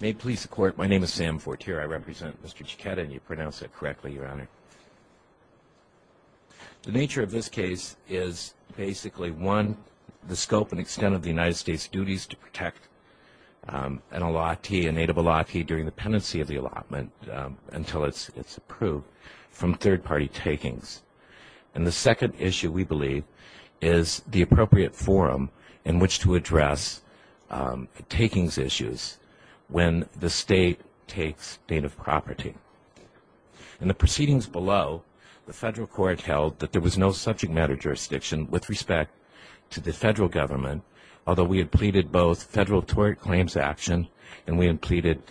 May it please the court, my name is Sam Fortier. I represent Mr. Jachetta, and you pronounced it correctly, Your Honor. The nature of this case is basically, one, the scope and extent of the United States duties to protect an allottee, a native allottee, during the pendency of the allotment until it's approved from third party takings. And the second issue, we believe, is the appropriate forum in which to address takings issues when the state takes native property. In the proceedings below, the federal court held that there was no subject matter jurisdiction with respect to the federal government, although we had pleaded both federal tort claims action, and we had pleaded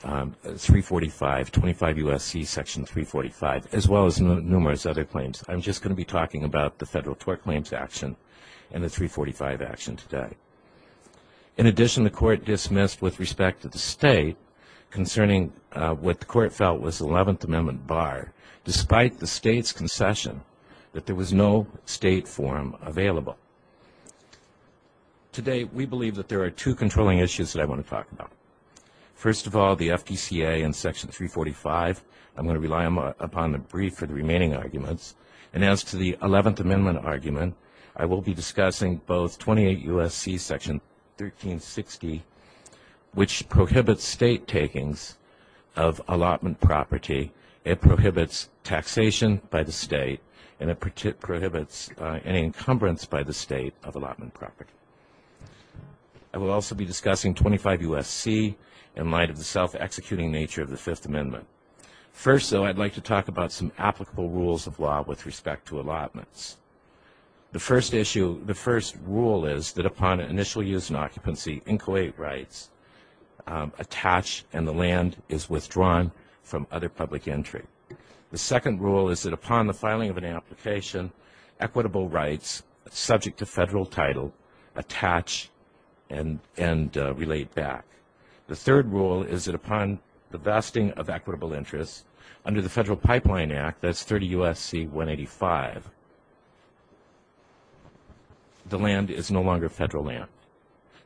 345, 25 U.S.C. section 345, as well as numerous other claims. I'm just going to be talking about the federal tort claims action and the 345 action today. In addition, the court dismissed with respect to the state concerning what the court felt was the 11th Amendment bar, despite the state's concession that there was no state forum available. Today, we believe that there are two controlling issues that I want to talk about. First of all, the FPCA and section 345. I'm going to rely upon the brief for the remaining arguments. And as to the 11th Amendment argument, I will be discussing both 28 U.S.C. section 1360, which prohibits state takings of allotment property. It prohibits taxation by the state, and it prohibits any encumbrance by the state of allotment property. I will also be discussing 25 U.S.C. in light of the self-executing nature of the Fifth Amendment. First, though, I'd like to talk about some applicable rules of law with respect to allotments. The first issue, the first rule is that upon initial use and occupancy, inchoate rights attach and the land is withdrawn from other public entry. The second rule is that upon the filing of an application, equitable rights subject to federal title attach and relate back. The third rule is that upon the vesting of equitable interests under the Federal Pipeline Act, that's 30 U.S.C. 185, the land is no longer federal land.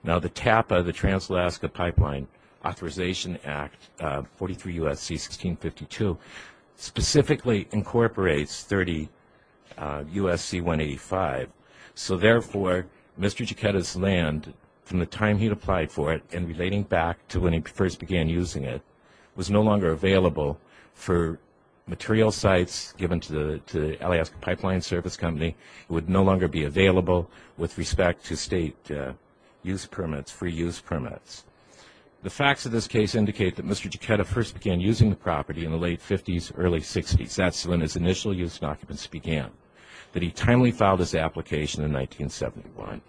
Now, the TAPA, the Trans-Alaska Pipeline Authorization Act, 43 U.S.C. 1652, specifically incorporates 30 U.S.C. 185. So therefore, Mr. Jeketa's land, from the time he applied for it and relating back to when he first began using it, was no longer available for material sites given to the Alaska Pipeline Service Company. It would no longer be available with respect to state use permits, free use permits. The facts of this case indicate that Mr. Jeketa first began using the property in the late 50s, early 60s. That's when his initial use and occupancy began. That he timely filed his application in 1971.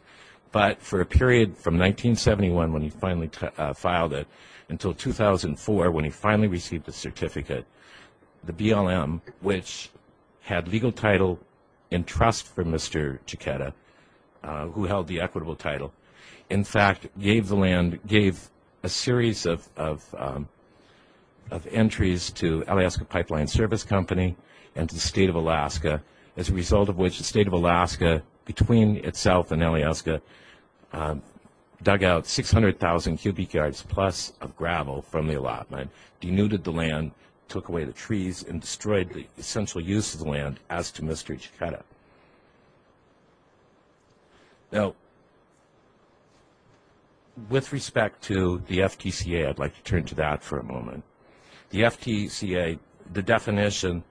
But for a period from 1971, when he finally filed it, until 2004, when he finally received the certificate, the BLM, which had legal title and trust for Mr. Jeketa, who held the equitable title, in fact, gave the land, gave a series of entries to Alaska Pipeline Service Company and to the state of Alaska, as a result of which the state of Alaska, between itself and Alaska, dug out 600,000 cubic yards plus of gravel from the allotment, denuded the land, took away the trees, and destroyed the essential use of the land as to Mr. Jeketa. Now, with respect to the FTCA, I'd like to turn to that for a moment. The FTCA, the definition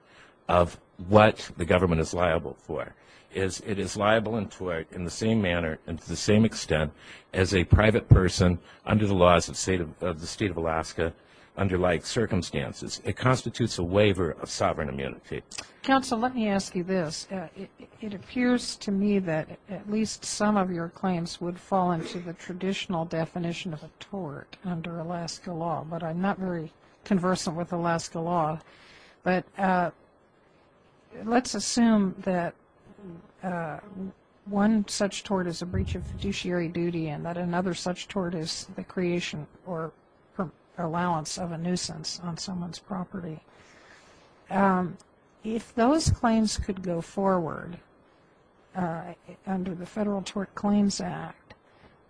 of what the government is liable for is it is liable in tort in the same manner and to the same extent as a private person under the laws of the state of Alaska under like circumstances. It constitutes a waiver of sovereign immunity. Counsel, let me ask you this. It appears to me that at least some of your claims would fall into the traditional definition of a tort under Alaska law. But I'm not very conversant with Alaska law. But let's assume that one such tort is a breach of fiduciary duty and that another such tort is the creation or allowance of a nuisance on someone's property. If those claims could go forward under the Federal Tort Claims Act,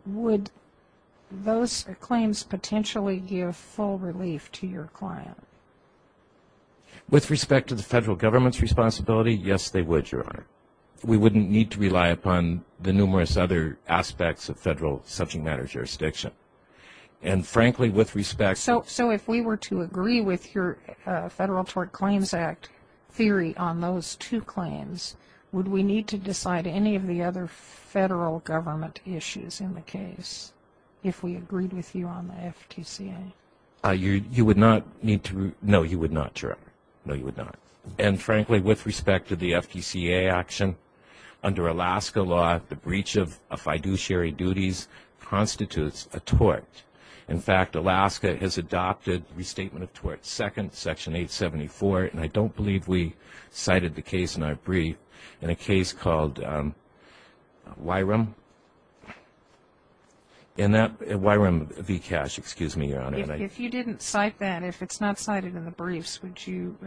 would those claims potentially give full relief to your client? With respect to the federal government's responsibility, yes, they would, Your Honor. We wouldn't need to rely upon the numerous other aspects of federal subject matter jurisdiction. And frankly, with respect to- So if we were to agree with your Federal Tort Claims Act theory on those two claims, would we need to decide any of the other federal government issues in the case if we agreed with you on the FTCA? You would not need to- no, you would not, Your Honor. No, you would not. And frankly, with respect to the FTCA action, under Alaska law, the breach of fiduciary duties constitutes a tort. In fact, Alaska has adopted Restatement of Tort Second, Section 874. And I don't believe we cited the case in our brief. In a case called Wyrum, in that- Wyrum v. Cash, excuse me, Your Honor. If you didn't cite that, if it's not cited in the briefs, would you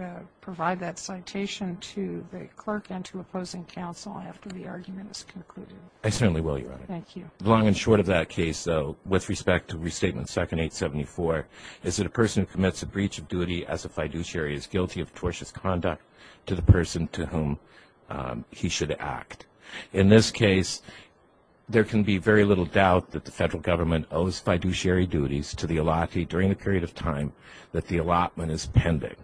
provide that citation to the clerk and to opposing counsel after the argument is concluded? I certainly will, Your Honor. Thank you. Long and short of that case, though, with respect to Restatement Second, 874, is it a person who commits a breach of duty as a fiduciary is guilty of tortious conduct to the person to whom he should act. In this case, there can be very little doubt that the federal government owes fiduciary duties to the allottee during the period of time that the allotment is pending.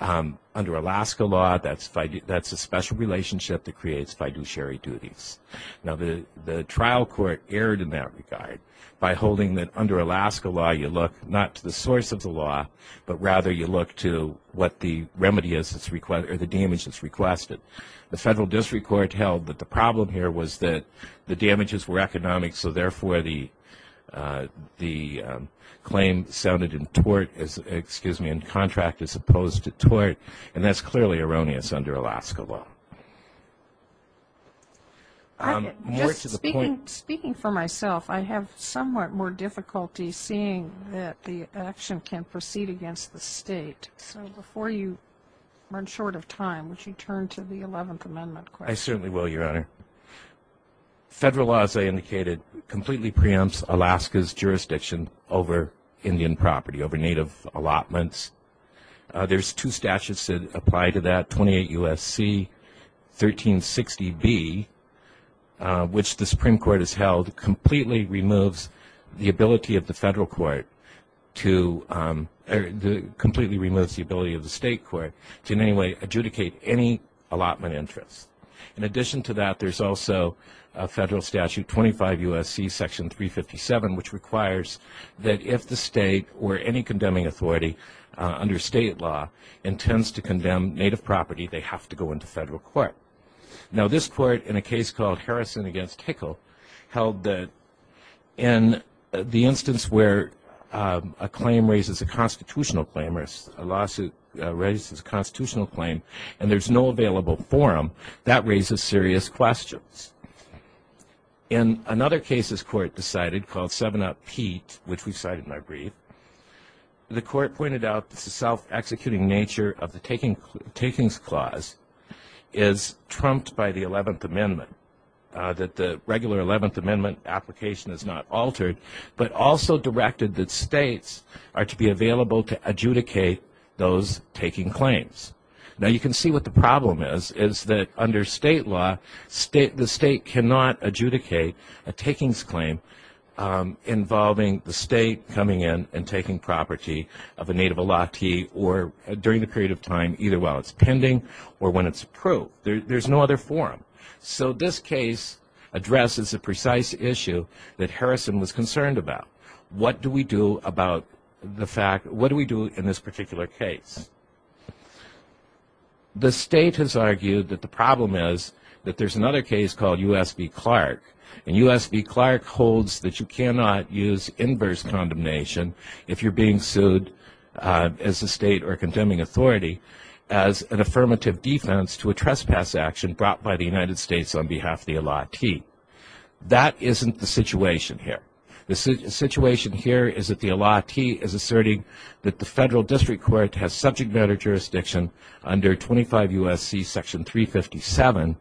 Under Alaska law, that's a special relationship that creates fiduciary duties. Now, the trial court erred in that regard by holding that under Alaska law, you look not to the source of the law, but rather, you look to what the remedy is that's required or the damage that's requested. The federal district court held that the problem here was that the damages were economic. So therefore, the claim sounded in tort as- excuse me, in contract as opposed to tort. And that's clearly erroneous under Alaska law. More to the point- That the action can proceed against the state. So before you run short of time, would you turn to the 11th Amendment? I certainly will, Your Honor. Federal law, as I indicated, completely preempts Alaska's jurisdiction over Indian property, over native allotments. There's two statutes that apply to that, 28 U.S.C. 1360B, which the Supreme Court has held completely removes the ability of the federal court to- completely removes the ability of the state court to in any way adjudicate any allotment interest. In addition to that, there's also a federal statute, 25 U.S.C. Section 357, which requires that if the state or any condemning authority under state law intends to condemn native property, they have to go into federal court. Now, this court, in a case called Harrison against Hickle, held that in the instance where a claim raises a constitutional claim, or a lawsuit raises a constitutional claim, and there's no available forum, that raises serious questions. In another case this court decided, called Seven Up Pete, which we've cited in our brief, the court pointed out that the self-executing nature that the regular 11th Amendment application is not altered, but also directed that states are to be available to adjudicate those taking claims. Now, you can see what the problem is, is that under state law, the state cannot adjudicate a takings claim involving the state coming in and taking property of a native allottee or during the period of time either while it's pending or when it's approved. There's no other forum. So, this case addresses a precise issue that Harrison was concerned about. What do we do about the fact, what do we do in this particular case? The state has argued that the problem is that there's another case called U.S. v. Clark, and U.S. v. Clark holds that you cannot use inverse condemnation if you're being sued as a state or condemning authority as an affirmative defense to a trespass action brought by the United States on behalf of the allottee. That isn't the situation here. The situation here is that the allottee is asserting that the federal district court has subject matter jurisdiction under 25 U.S.C. section 357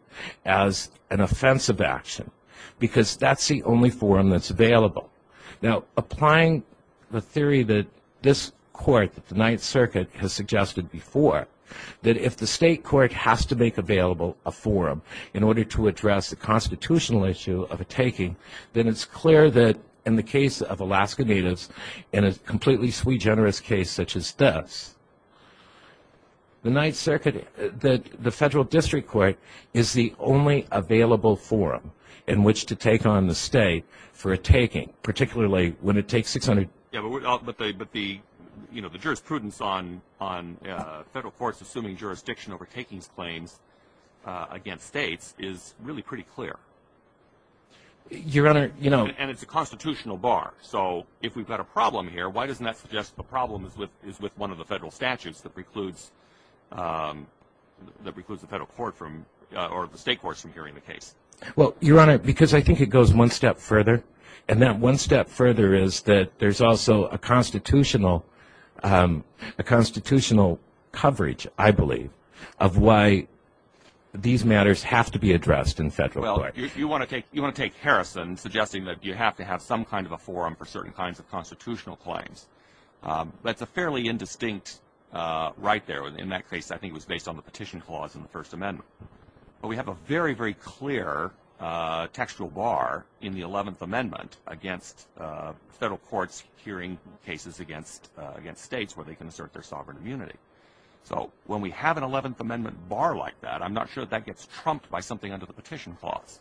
as an offensive action, because that's the only forum that's available. Now, applying the theory that this court, the Ninth Circuit has suggested before, that if the state court has to make available a forum in order to address the constitutional issue of a taking, then it's clear that in the case of Alaska Natives and a completely sui generis case such as this, the Federal District Court is the only available forum in which to take on the state for a taking, particularly when it takes 600. Yeah, but the jurisprudence on federal courts assuming jurisdiction over takings claims against states is really pretty clear. Your Honor, you know. And it's a constitutional bar. So if we've got a problem here, why doesn't that suggest the problem is with one of the federal statutes that precludes the federal court from, or the state courts from hearing the case? Well, Your Honor, because I think it goes one step further. And that one step further is that there's also a constitutional coverage, I believe, of why these matters have to be addressed in federal court. Well, you want to take Harrison suggesting that you have to have some kind of a forum for certain kinds of constitutional claims. That's a fairly indistinct right there. In that case, I think it was based on the petition clause in the First Amendment. Well, we have a very, very clear textual bar in the 11th Amendment against federal courts hearing cases against states where they can assert their sovereign immunity. So when we have an 11th Amendment bar like that, I'm not sure that that gets trumped by something under the petition clause.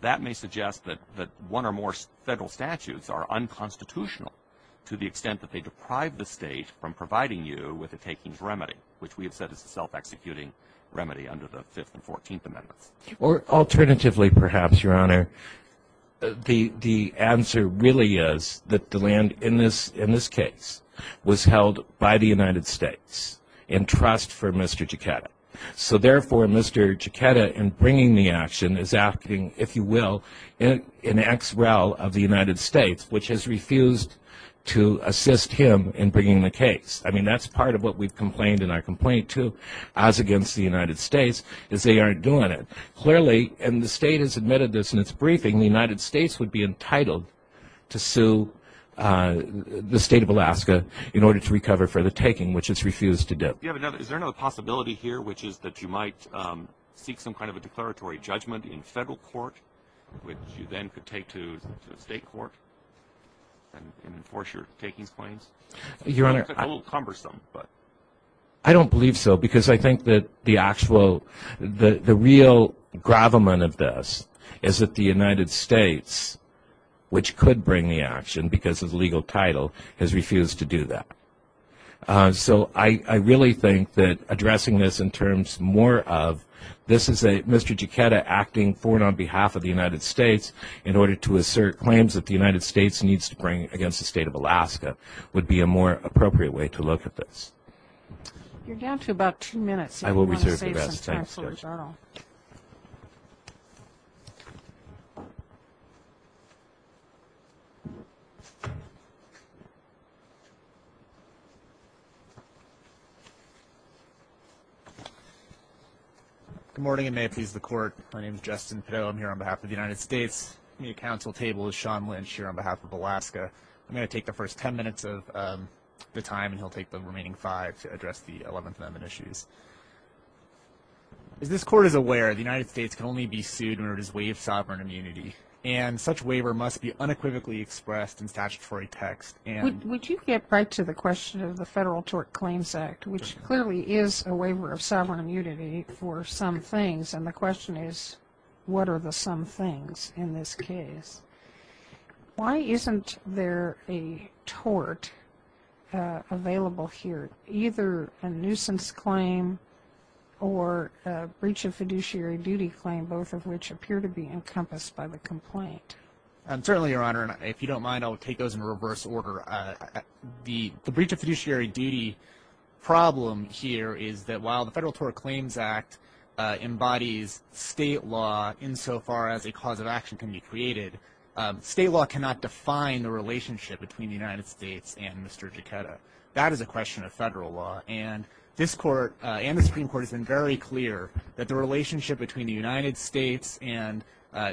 That may suggest that one or more federal statutes are unconstitutional to the extent that they deprive the state from providing you with a takings remedy, which we have said is a self-executing remedy under the 5th and 14th Amendments. Or alternatively, perhaps, Your Honor, the answer really is that the land in this case was held by the United States in trust for Mr. Jaquetta. So therefore, Mr. Jaquetta, in bringing the action, is acting, if you will, in ex-rel of the United States, which has refused to assist him in bringing the case. I mean, that's part of what we've complained in our complaint, too, as against the United States, is they aren't doing it. Clearly, and the state has admitted this in its briefing, the United States would be entitled to sue the state of Alaska in order to recover for the taking, which it's refused to do. Yeah, but now, is there another possibility here, which is that you might seek some kind of a declaratory judgment in federal court, which you then could take to the state court and enforce your takings claims? Your Honor, I... That's a little cumbersome, but... I don't believe so, because I think that the actual, the real gravamen of this is that the United States, which could bring the action because of the legal title, has refused to do that. So I really think that addressing this in terms more of this is a Mr. Jaquetta acting for and on behalf of the United States in order to assert claims that the United States needs to bring against the state of Alaska would be a more appropriate way to look at this. You're down to about two minutes. I will reserve the rest of the time, sir. I will reserve the rest of the time, sir. Good morning, and may it please the Court. My name is Justin Pidell. I'm here on behalf of the United States. The counsel table is Sean Lynch here on behalf of Alaska. I'm going to take the first ten minutes of the time, and he'll take the remaining five to address the Eleventh Amendment issues. As this Court is aware, the United States can only be sued when it is waived sovereign immunity, and such waiver must be unequivocally expressed in statutory text and... Would you get right to the question of the Federal Tort Claims Act, which clearly is a waiver of sovereign immunity for some things, and the question is what are the some things in this case? Why isn't there a tort available here, either a nuisance claim or a breach of fiduciary duty claim, both of which appear to be encompassed by the complaint? Certainly, Your Honor, if you don't mind, I'll take those in reverse order. The breach of fiduciary duty problem here is that while the Federal Tort Claims Act embodies state law insofar as a cause of action can be created, state law cannot define the relationship between the United States and Mr. Jeketa. That is a question of federal law, and this Court and the Supreme Court has been very clear that the relationship between the United States and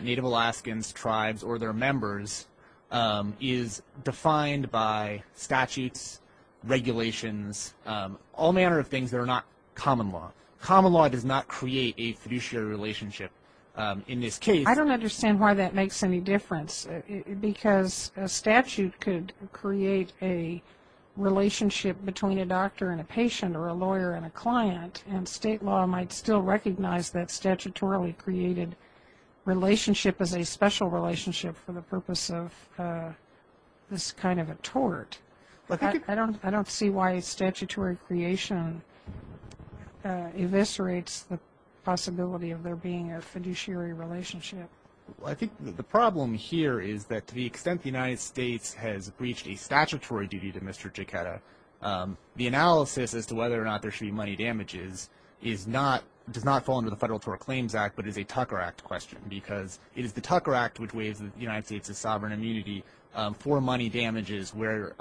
Native Alaskans, tribes, or their members is defined by statutes, regulations, all manner of things that are not common law. Common law does not create a fiduciary relationship in this case. I don't understand why that makes any difference because a statute could create a relationship between a doctor and a patient or a lawyer and a client, and state law might still recognize that statutorily created relationship as a special relationship for the purpose of this kind of a tort. I don't see why a statutory creation eviscerates the possibility of there being a fiduciary relationship. I think the problem here is that to the extent the United States has breached a statutory duty to Mr. Jeketa, the analysis as to whether or not there should be money damages is not, does not fall under the Federal Tort Claims Act, but is a Tucker Act question because it is the Tucker Act which waives the United States' sovereign immunity for money damages where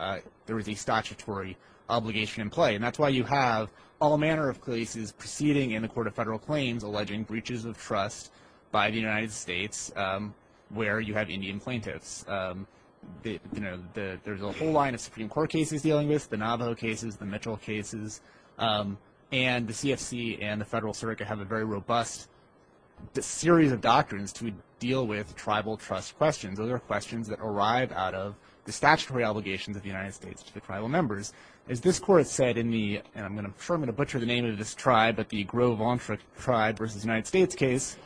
there is a statutory obligation in play. And that's why you have all manner of proceeding in the Court of Federal Claims alleging breaches of trust by the United States where you have Indian plaintiffs. There's a whole line of Supreme Court cases dealing with, the Navajo cases, the Mitchell cases, and the CFC and the Federal Circuit have a very robust series of doctrines to deal with tribal trust questions. Those are questions that arrive out of the statutory obligations of the United States to the tribal members. As this Court said in the, and I'm going to, I'm sure I'm going to butcher the name of this tribe, but the Grove-Vontra tribe versus United States case,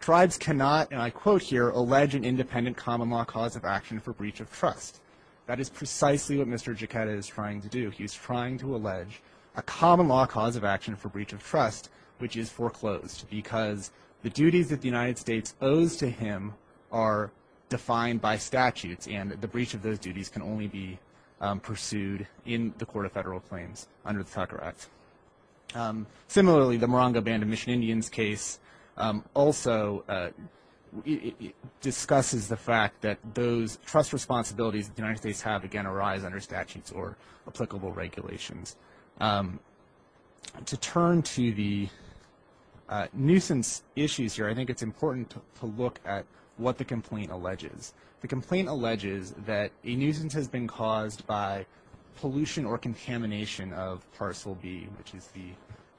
tribes cannot, and I quote here, allege an independent common law cause of action for breach of trust. That is precisely what Mr. Jeketa is trying to do. He's trying to allege a common law cause of action for breach of trust, which is foreclosed because the duties that the United States owes to him are defined by statutes and the breach of those duties can only be pursued in the Court of Federal Claims under the Tucker Act. Similarly, the Morongo Band of Mission Indians case also discusses the fact that those trust responsibilities that the United States have, again, arise under statutes or applicable regulations. To turn to the nuisance issues here, I think it's important to look at what the complaint alleges. The complaint alleges that a nuisance has been caused by pollution or contamination of Parcel B, which is the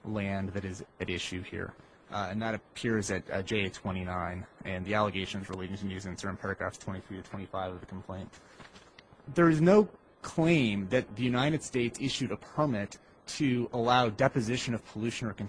land that is at issue here, and that appears at J29, and the allegations relating to nuisance are in paragraphs 23 to 25 of the complaint. There is no claim that the United States issued a permit to allow deposition of pollution or can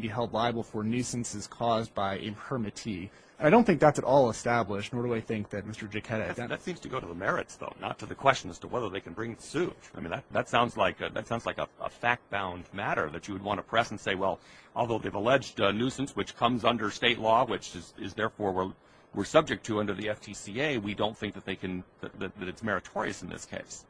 be held liable for nuisances caused by a permittee. I don't think that's at all established, nor do I think that Mr. Jeketa has done that. That seems to go to the merits, though, not to the question as to whether they can bring suit. I mean, that sounds like a fact-bound matter that you would want to press and say, well, although they've alleged a nuisance which comes under state law, which is therefore we're subject to under the FTCA, we don't think that it's meritorious in this case.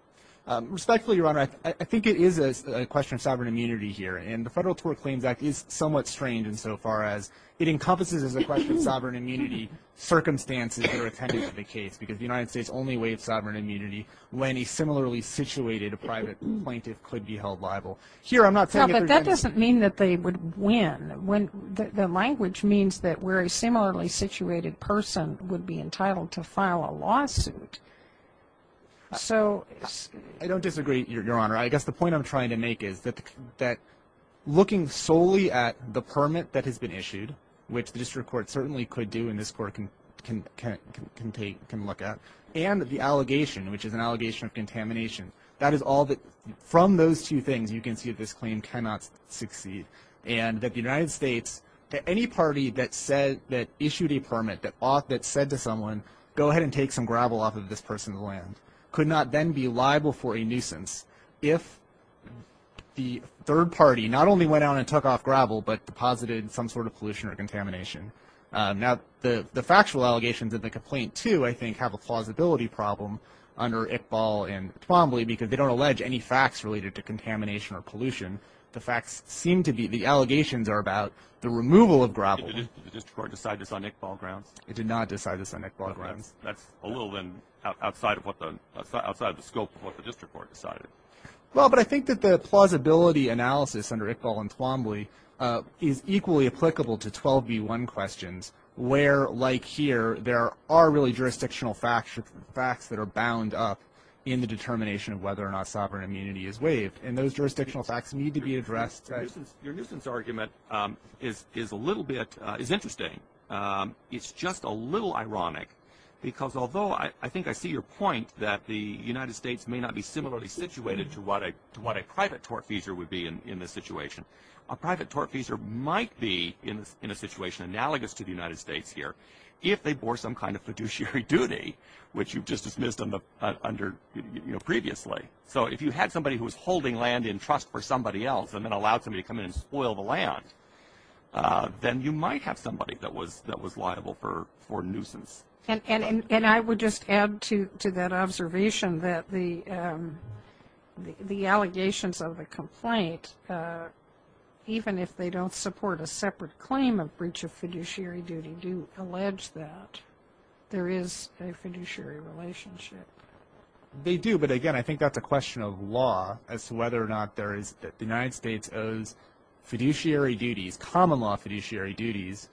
Respectfully, Your Honor, I think it is a question of sovereign immunity here, and the Federal Tort Claims Act is somewhat strange insofar as it encompasses as a question of sovereign immunity circumstances that are attended to in the case, because the United States only waived sovereign immunity when a similarly situated private plaintiff could be held liable. Here, I'm not saying that they're going to be. No, but that doesn't mean that they would win. The language means that where a similarly situated person would be entitled to file a lawsuit, so. I don't disagree, Your Honor. I guess the point I'm trying to make is that looking solely at the permit that has been issued, which the district court certainly could do and this court can look at, and the allegation, which is an allegation of contamination, that is all that, from those two things, you can see that this claim cannot succeed, and that the United States, that any party that issued a permit that said to someone, go ahead and take some gravel off of this person's land, could not then be liable for a nuisance if the third party not only went out and took off gravel, but deposited some sort of pollution or contamination. Now, the factual allegations of the complaint, too, I think have a plausibility problem under Iqbal and Twombly, because they don't allege any facts related to contamination or pollution. The facts seem to be, the allegations are about the removal of gravel. Did the district court decide this on Iqbal grounds? It did not decide this on Iqbal grounds. That's a little outside of the scope of what the district court decided. Well, but I think that the plausibility analysis under Iqbal and Twombly is equally applicable to 12b1 questions, where, like here, there are really jurisdictional facts that are bound up in the determination of whether or not sovereign immunity is waived, Your nuisance argument is interesting. It's just a little ironic, because although I think I see your point that the United States may not be similarly situated to what a private tortfeasor would be in this situation, a private tortfeasor might be in a situation analogous to the United States here if they bore some kind of fiduciary duty, which you've just dismissed previously. So if you had somebody who was holding land in trust for somebody else and then allowed somebody to come in and spoil the land, then you might have somebody that was liable for nuisance. And I would just add to that observation that the allegations of the complaint, even if they don't support a separate claim of breach of fiduciary duty, do allege that there is a fiduciary relationship. They do. But again, I think that's a question of law as to whether or not there is that the United States owes fiduciary duties, common law fiduciary duties,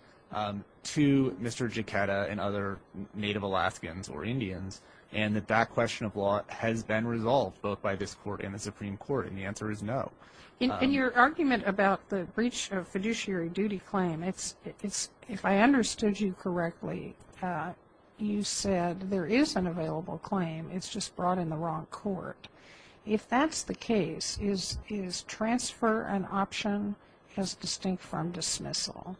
to Mr. Jaquetta and other Native Alaskans or Indians, and that that question of law has been resolved both by this court and the Supreme Court. And the answer is no. In your argument about the breach of fiduciary duty claim, if I understood you correctly, you said there is an available claim. It's just brought in the wrong court. If that's the case, is transfer an option as distinct from dismissal?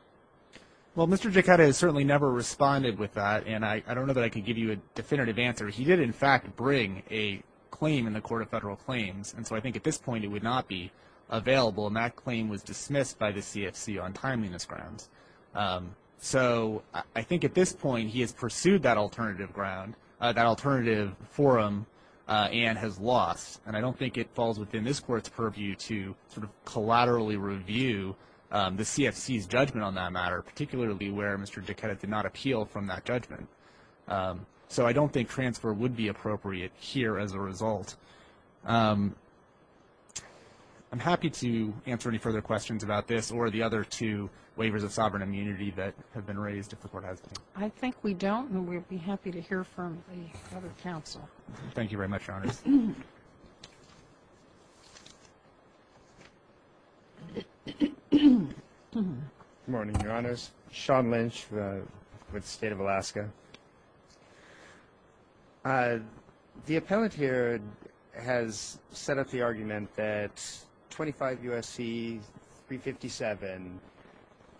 Well, Mr. Jaquetta has certainly never responded with that. And I don't know that I can give you a definitive answer. He did, in fact, bring a claim in the Court of Federal Claims. And that claim was dismissed by the CFC on timeliness grounds. So I think at this point, he has pursued that alternative ground, that alternative forum, and has lost. And I don't think it falls within this court's purview to sort of collaterally review the CFC's judgment on that matter, particularly where Mr. Jaquetta did not appeal from that judgment. I'm happy to answer any further questions about this or the other two waivers of sovereign immunity that have been raised if the court has them. I think we don't, and we'd be happy to hear from the other counsel. Thank you very much, Your Honors. Good morning, Your Honors. Sean Lynch with the State of Alaska. The appellate here has set up the argument that 25 U.S.C. 357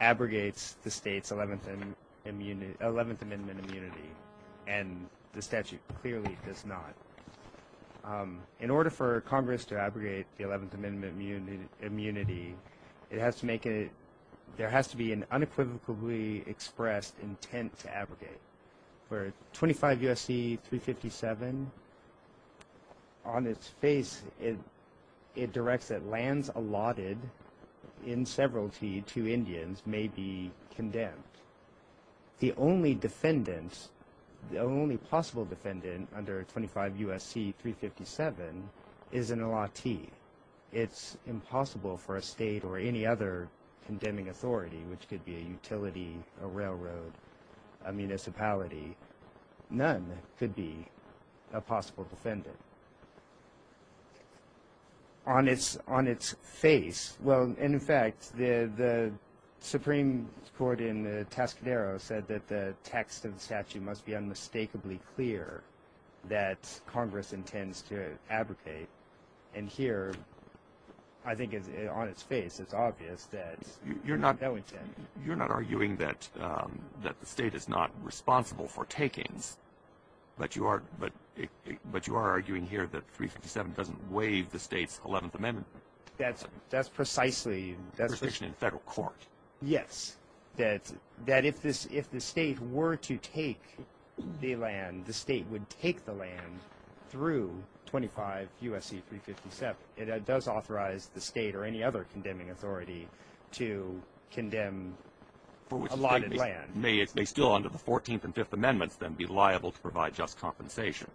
abrogates the state's 11th Amendment immunity, and the statute clearly does not. In order for Congress to abrogate the 11th Amendment immunity, it has to make it – there has to be an unequivocally expressed intent to abrogate. For 25 U.S.C. 357, on its face, it directs that lands allotted in severalty to Indians may be condemned. The only defendant – the only possible defendant under 25 U.S.C. 357 is an allottee. It's impossible for a state or any other condemning authority, which could be a utility, a railroad, a municipality, none could be a possible defendant. On its – on its face – well, and in fact, the Supreme Court in Tascadero said that the text of the statute must be unmistakably clear that Congress intends to abrogate. And here, I think on its face, it's obvious that that would happen. You're not arguing that the state is not responsible for takings, but you are – but you are arguing here that 357 doesn't waive the state's 11th Amendment? That's precisely – Restriction in federal court. Yes. That if this – if the state were to take the land, the state would take the land through 25 U.S.C. 357. It does authorize the state or any other condemning authority to condemn allotted land. May it still under the 14th and 5th Amendments then be liable to provide just compensation?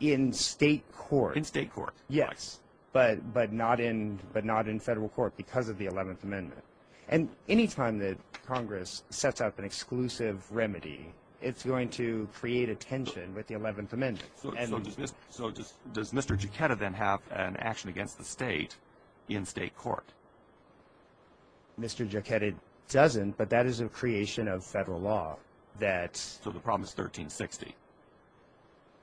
In state court. In state court. Yes, but not in – but not in federal court because of the 11th Amendment. And any time that Congress sets up an exclusive remedy, it's going to create a tension with the 11th Amendment. So does Mr. Giacchetti then have an action against the state in state court? Mr. Giacchetti doesn't, but that is a creation of federal law that – So the problem is 1360?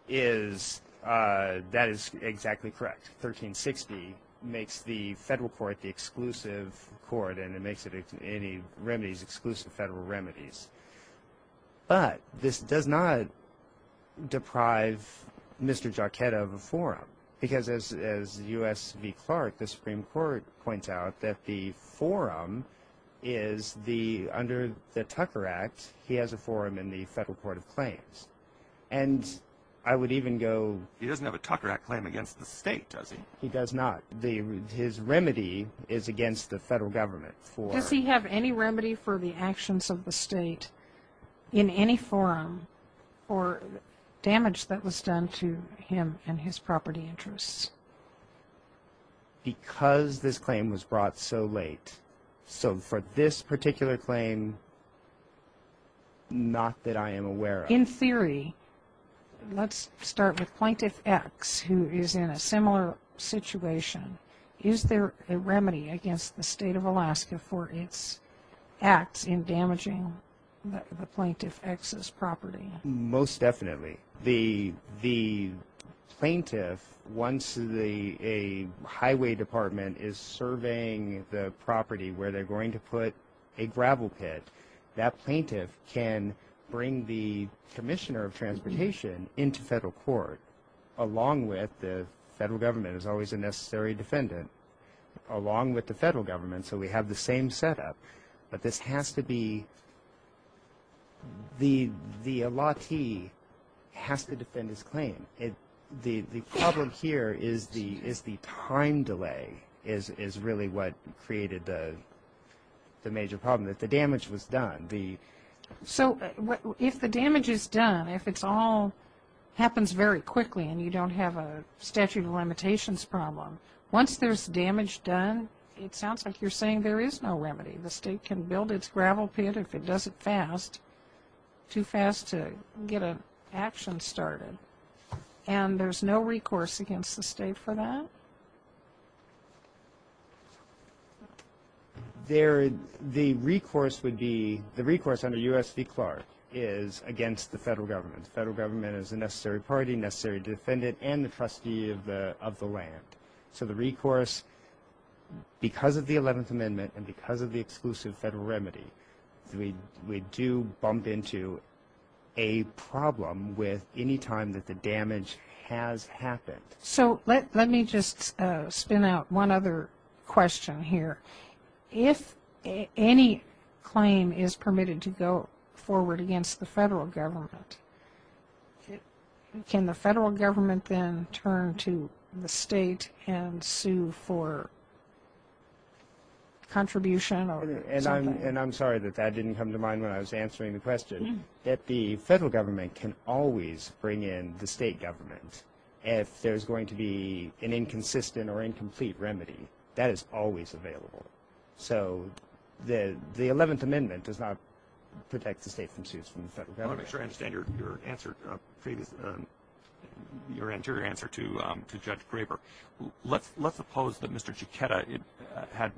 Is – that is exactly correct. 1360 makes the federal court the exclusive court and it makes it any remedies exclusive federal remedies. But this does not deprive Mr. Giacchetti of a forum because as U.S. v. Clark, the Supreme Court points out that the forum is the – under the Tucker Act, he has a forum in the federal court of claims. And I would even go – He doesn't have a Tucker Act claim against the state, does he? He does not. His remedy is against the federal government for – Does he have any remedy for the actions of the state in any forum for damage that was done to him and his property interests? Because this claim was brought so late. So for this particular claim, not that I am aware of. In theory, let's start with Plaintiff X, who is in a similar situation. Is there a remedy against the state of Alaska for its acts in damaging the Plaintiff X's property? Most definitely. The plaintiff, once a highway department is surveying the property where they're going to put a gravel pit, that plaintiff can bring the commissioner of transportation into federal court along with the federal government, who's always a necessary defendant, along with the federal government. So we have the same setup. But this has to be – the elati has to defend his claim. The problem here is the time delay is really what created the major problem, that the damage was done. So if the damage is done, if it all happens very quickly and you don't have a statute of limitations problem, once there's damage done, it sounds like you're saying there is no remedy. The state can build its gravel pit if it does it fast, too fast to get an action started. And there's no recourse against the state for that? There – the recourse would be – the recourse under U.S. v. Clark is against the federal government. The federal government is a necessary party, necessary defendant, and the trustee of the land. So the recourse, because of the 11th Amendment and because of the exclusive federal remedy, we do bump into a problem with any time that the damage has happened. So let me just spin out one other question here. If any claim is permitted to go forward against the federal government, can the federal government then turn to the state and sue for contribution or something? And I'm sorry that that didn't come to mind when I was answering the question. That the federal government can always bring in the state government. If there's going to be an inconsistent or incomplete remedy, that is always available. So the 11th Amendment does not protect the state from suits from the federal government. I want to make sure I understand your answer – your anterior answer to Judge Graber. Let's suppose that Mr. Chiquetta had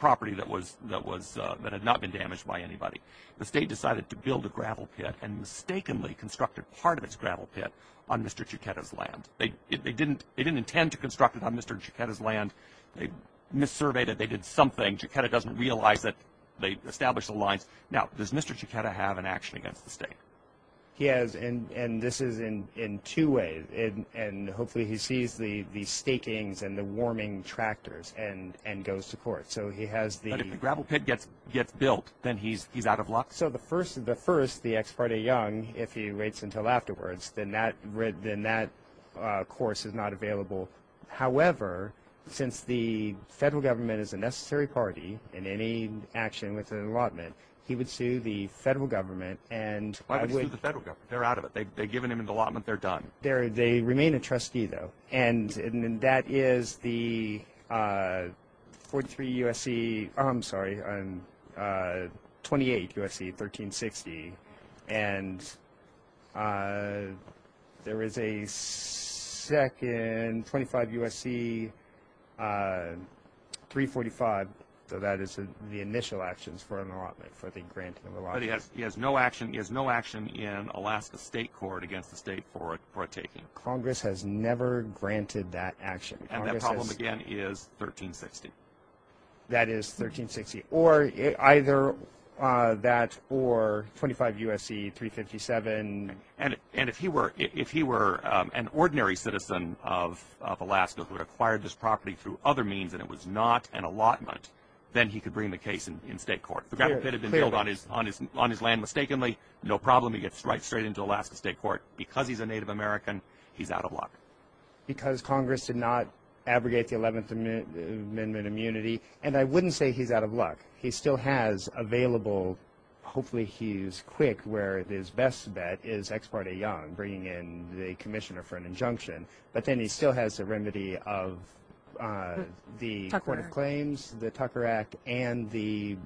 property that was – that had not been damaged by anybody. The state decided to build a gravel pit and mistakenly constructed part of its gravel pit on Mr. Chiquetta's land. They didn't – they didn't intend to construct it on Mr. Chiquetta's land. They missurveyed it. They did something. Chiquetta doesn't realize that they established the lines. Now, does Mr. Chiquetta have an action against the state? He has, and this is in two ways. And hopefully he sees the stakings and the warming tractors and goes to court. So he has the – But if the gravel pit gets built, then he's out of luck. So the first – the first, the ex parte young, if he waits until afterwards, then that – then that course is not available. However, since the federal government is a necessary party in any action with an allotment, he would sue the federal government and – Why would he sue the federal government? They're out of it. They've given him an allotment. They're done. They remain a trustee, though. And that is the 43 U.S.C. – I'm sorry, 28 U.S.C., 1360. And there is a second – 25 U.S.C., 345. So that is the initial actions for an allotment, for the granting of allotment. But he has no action – he has no action in Alaska state court against the state for a taking. Congress has never granted that action. And that problem, again, is 1360. That is 1360. Or either that or 25 U.S.C., 357. And if he were – if he were an ordinary citizen of Alaska who had acquired this property through other means and it was not an allotment, then he could bring the case in state court. The grant could have been billed on his land mistakenly. No problem. He gets right straight into Alaska state court. Because he's a Native American, he's out of luck. Because Congress did not abrogate the 11th Amendment immunity – and I wouldn't say he's out of luck. He still has available – hopefully he's quick, where his best bet is Ex parte Young, bringing in the commissioner for an injunction. But then he still has a remedy of the Court of Claims, the Tucker Act, and the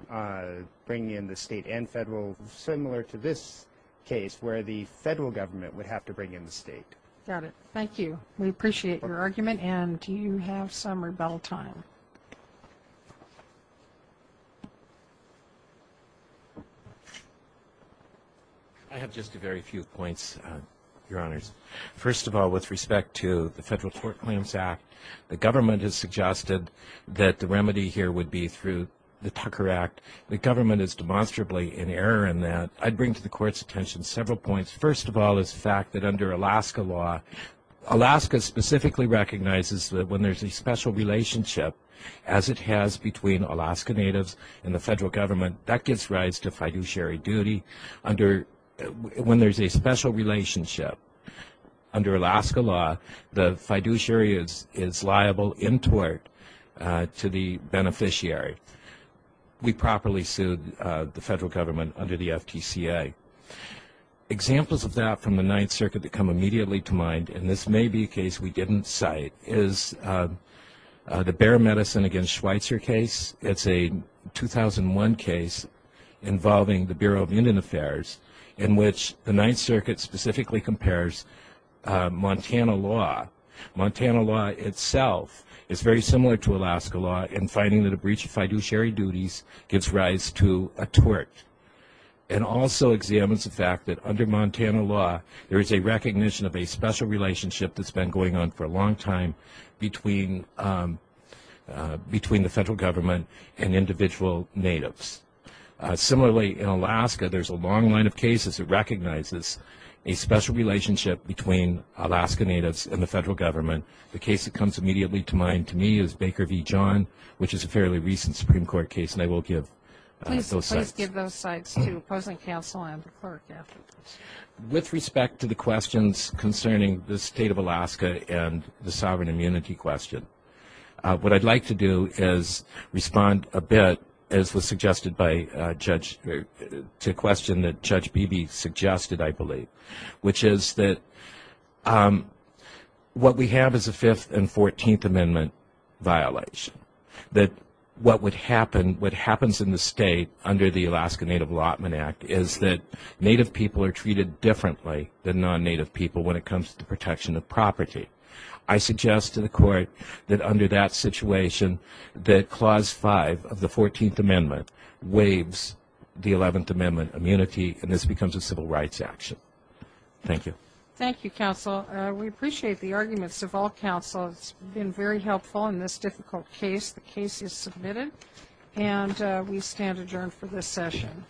– bringing in the state and federal, similar to this case, where the federal government would have to bring in the state. MS. MCGOWAN. Got it. Thank you. We appreciate your argument. And do you have some rebuttal time? MR. GARGANO. I have just a very few points, Your Honors. First of all, with respect to the Federal Court Claims the government has suggested that the remedy here would be through the Tucker Act. The government is demonstrably in error in that. I'd bring to the Court's attention several points. First of all, is the fact that under Alaska law, Alaska specifically recognizes that when there's a special relationship, as it has between Alaska Natives and the federal government, that gives rise to fiduciary duty. Under – when there's a special relationship, under Alaska law, the fiduciary is liable in tort to the beneficiary. We properly sued the federal government under the FTCA. Examples of that from the Ninth Circuit that come immediately to mind, and this may be a case we didn't cite, is the Bayer Medicine against Schweitzer case. It's a 2001 case involving the Montana law. Montana law itself is very similar to Alaska law in finding that a breach of fiduciary duties gives rise to a tort and also examines the fact that under Montana law, there is a recognition of a special relationship that's been going on for a long time between the federal government and individual Natives. Similarly, in Alaska, there's a long line of cases that between Alaska Natives and the federal government. The case that comes immediately to mind to me is Baker v. John, which is a fairly recent Supreme Court case, and I will give those cites. Please give those cites to opposing counsel and the clerk after this. With respect to the questions concerning the state of Alaska and the sovereign immunity question, what I'd like to do is respond a bit, as was suggested by Judge – to a question that Judge asked. What we have is a 5th and 14th Amendment violation. What happens in the state under the Alaska Native Allotment Act is that Native people are treated differently than non-Native people when it comes to protection of property. I suggest to the Court that under that situation, that Clause 5 of the 14th Amendment waives the 11th Amendment immunity, and this becomes a civil rights action. Thank you. Thank you, Counsel. We appreciate the arguments of all counsel. It's been very helpful in this difficult case. The case is submitted, and we stand adjourned for this session.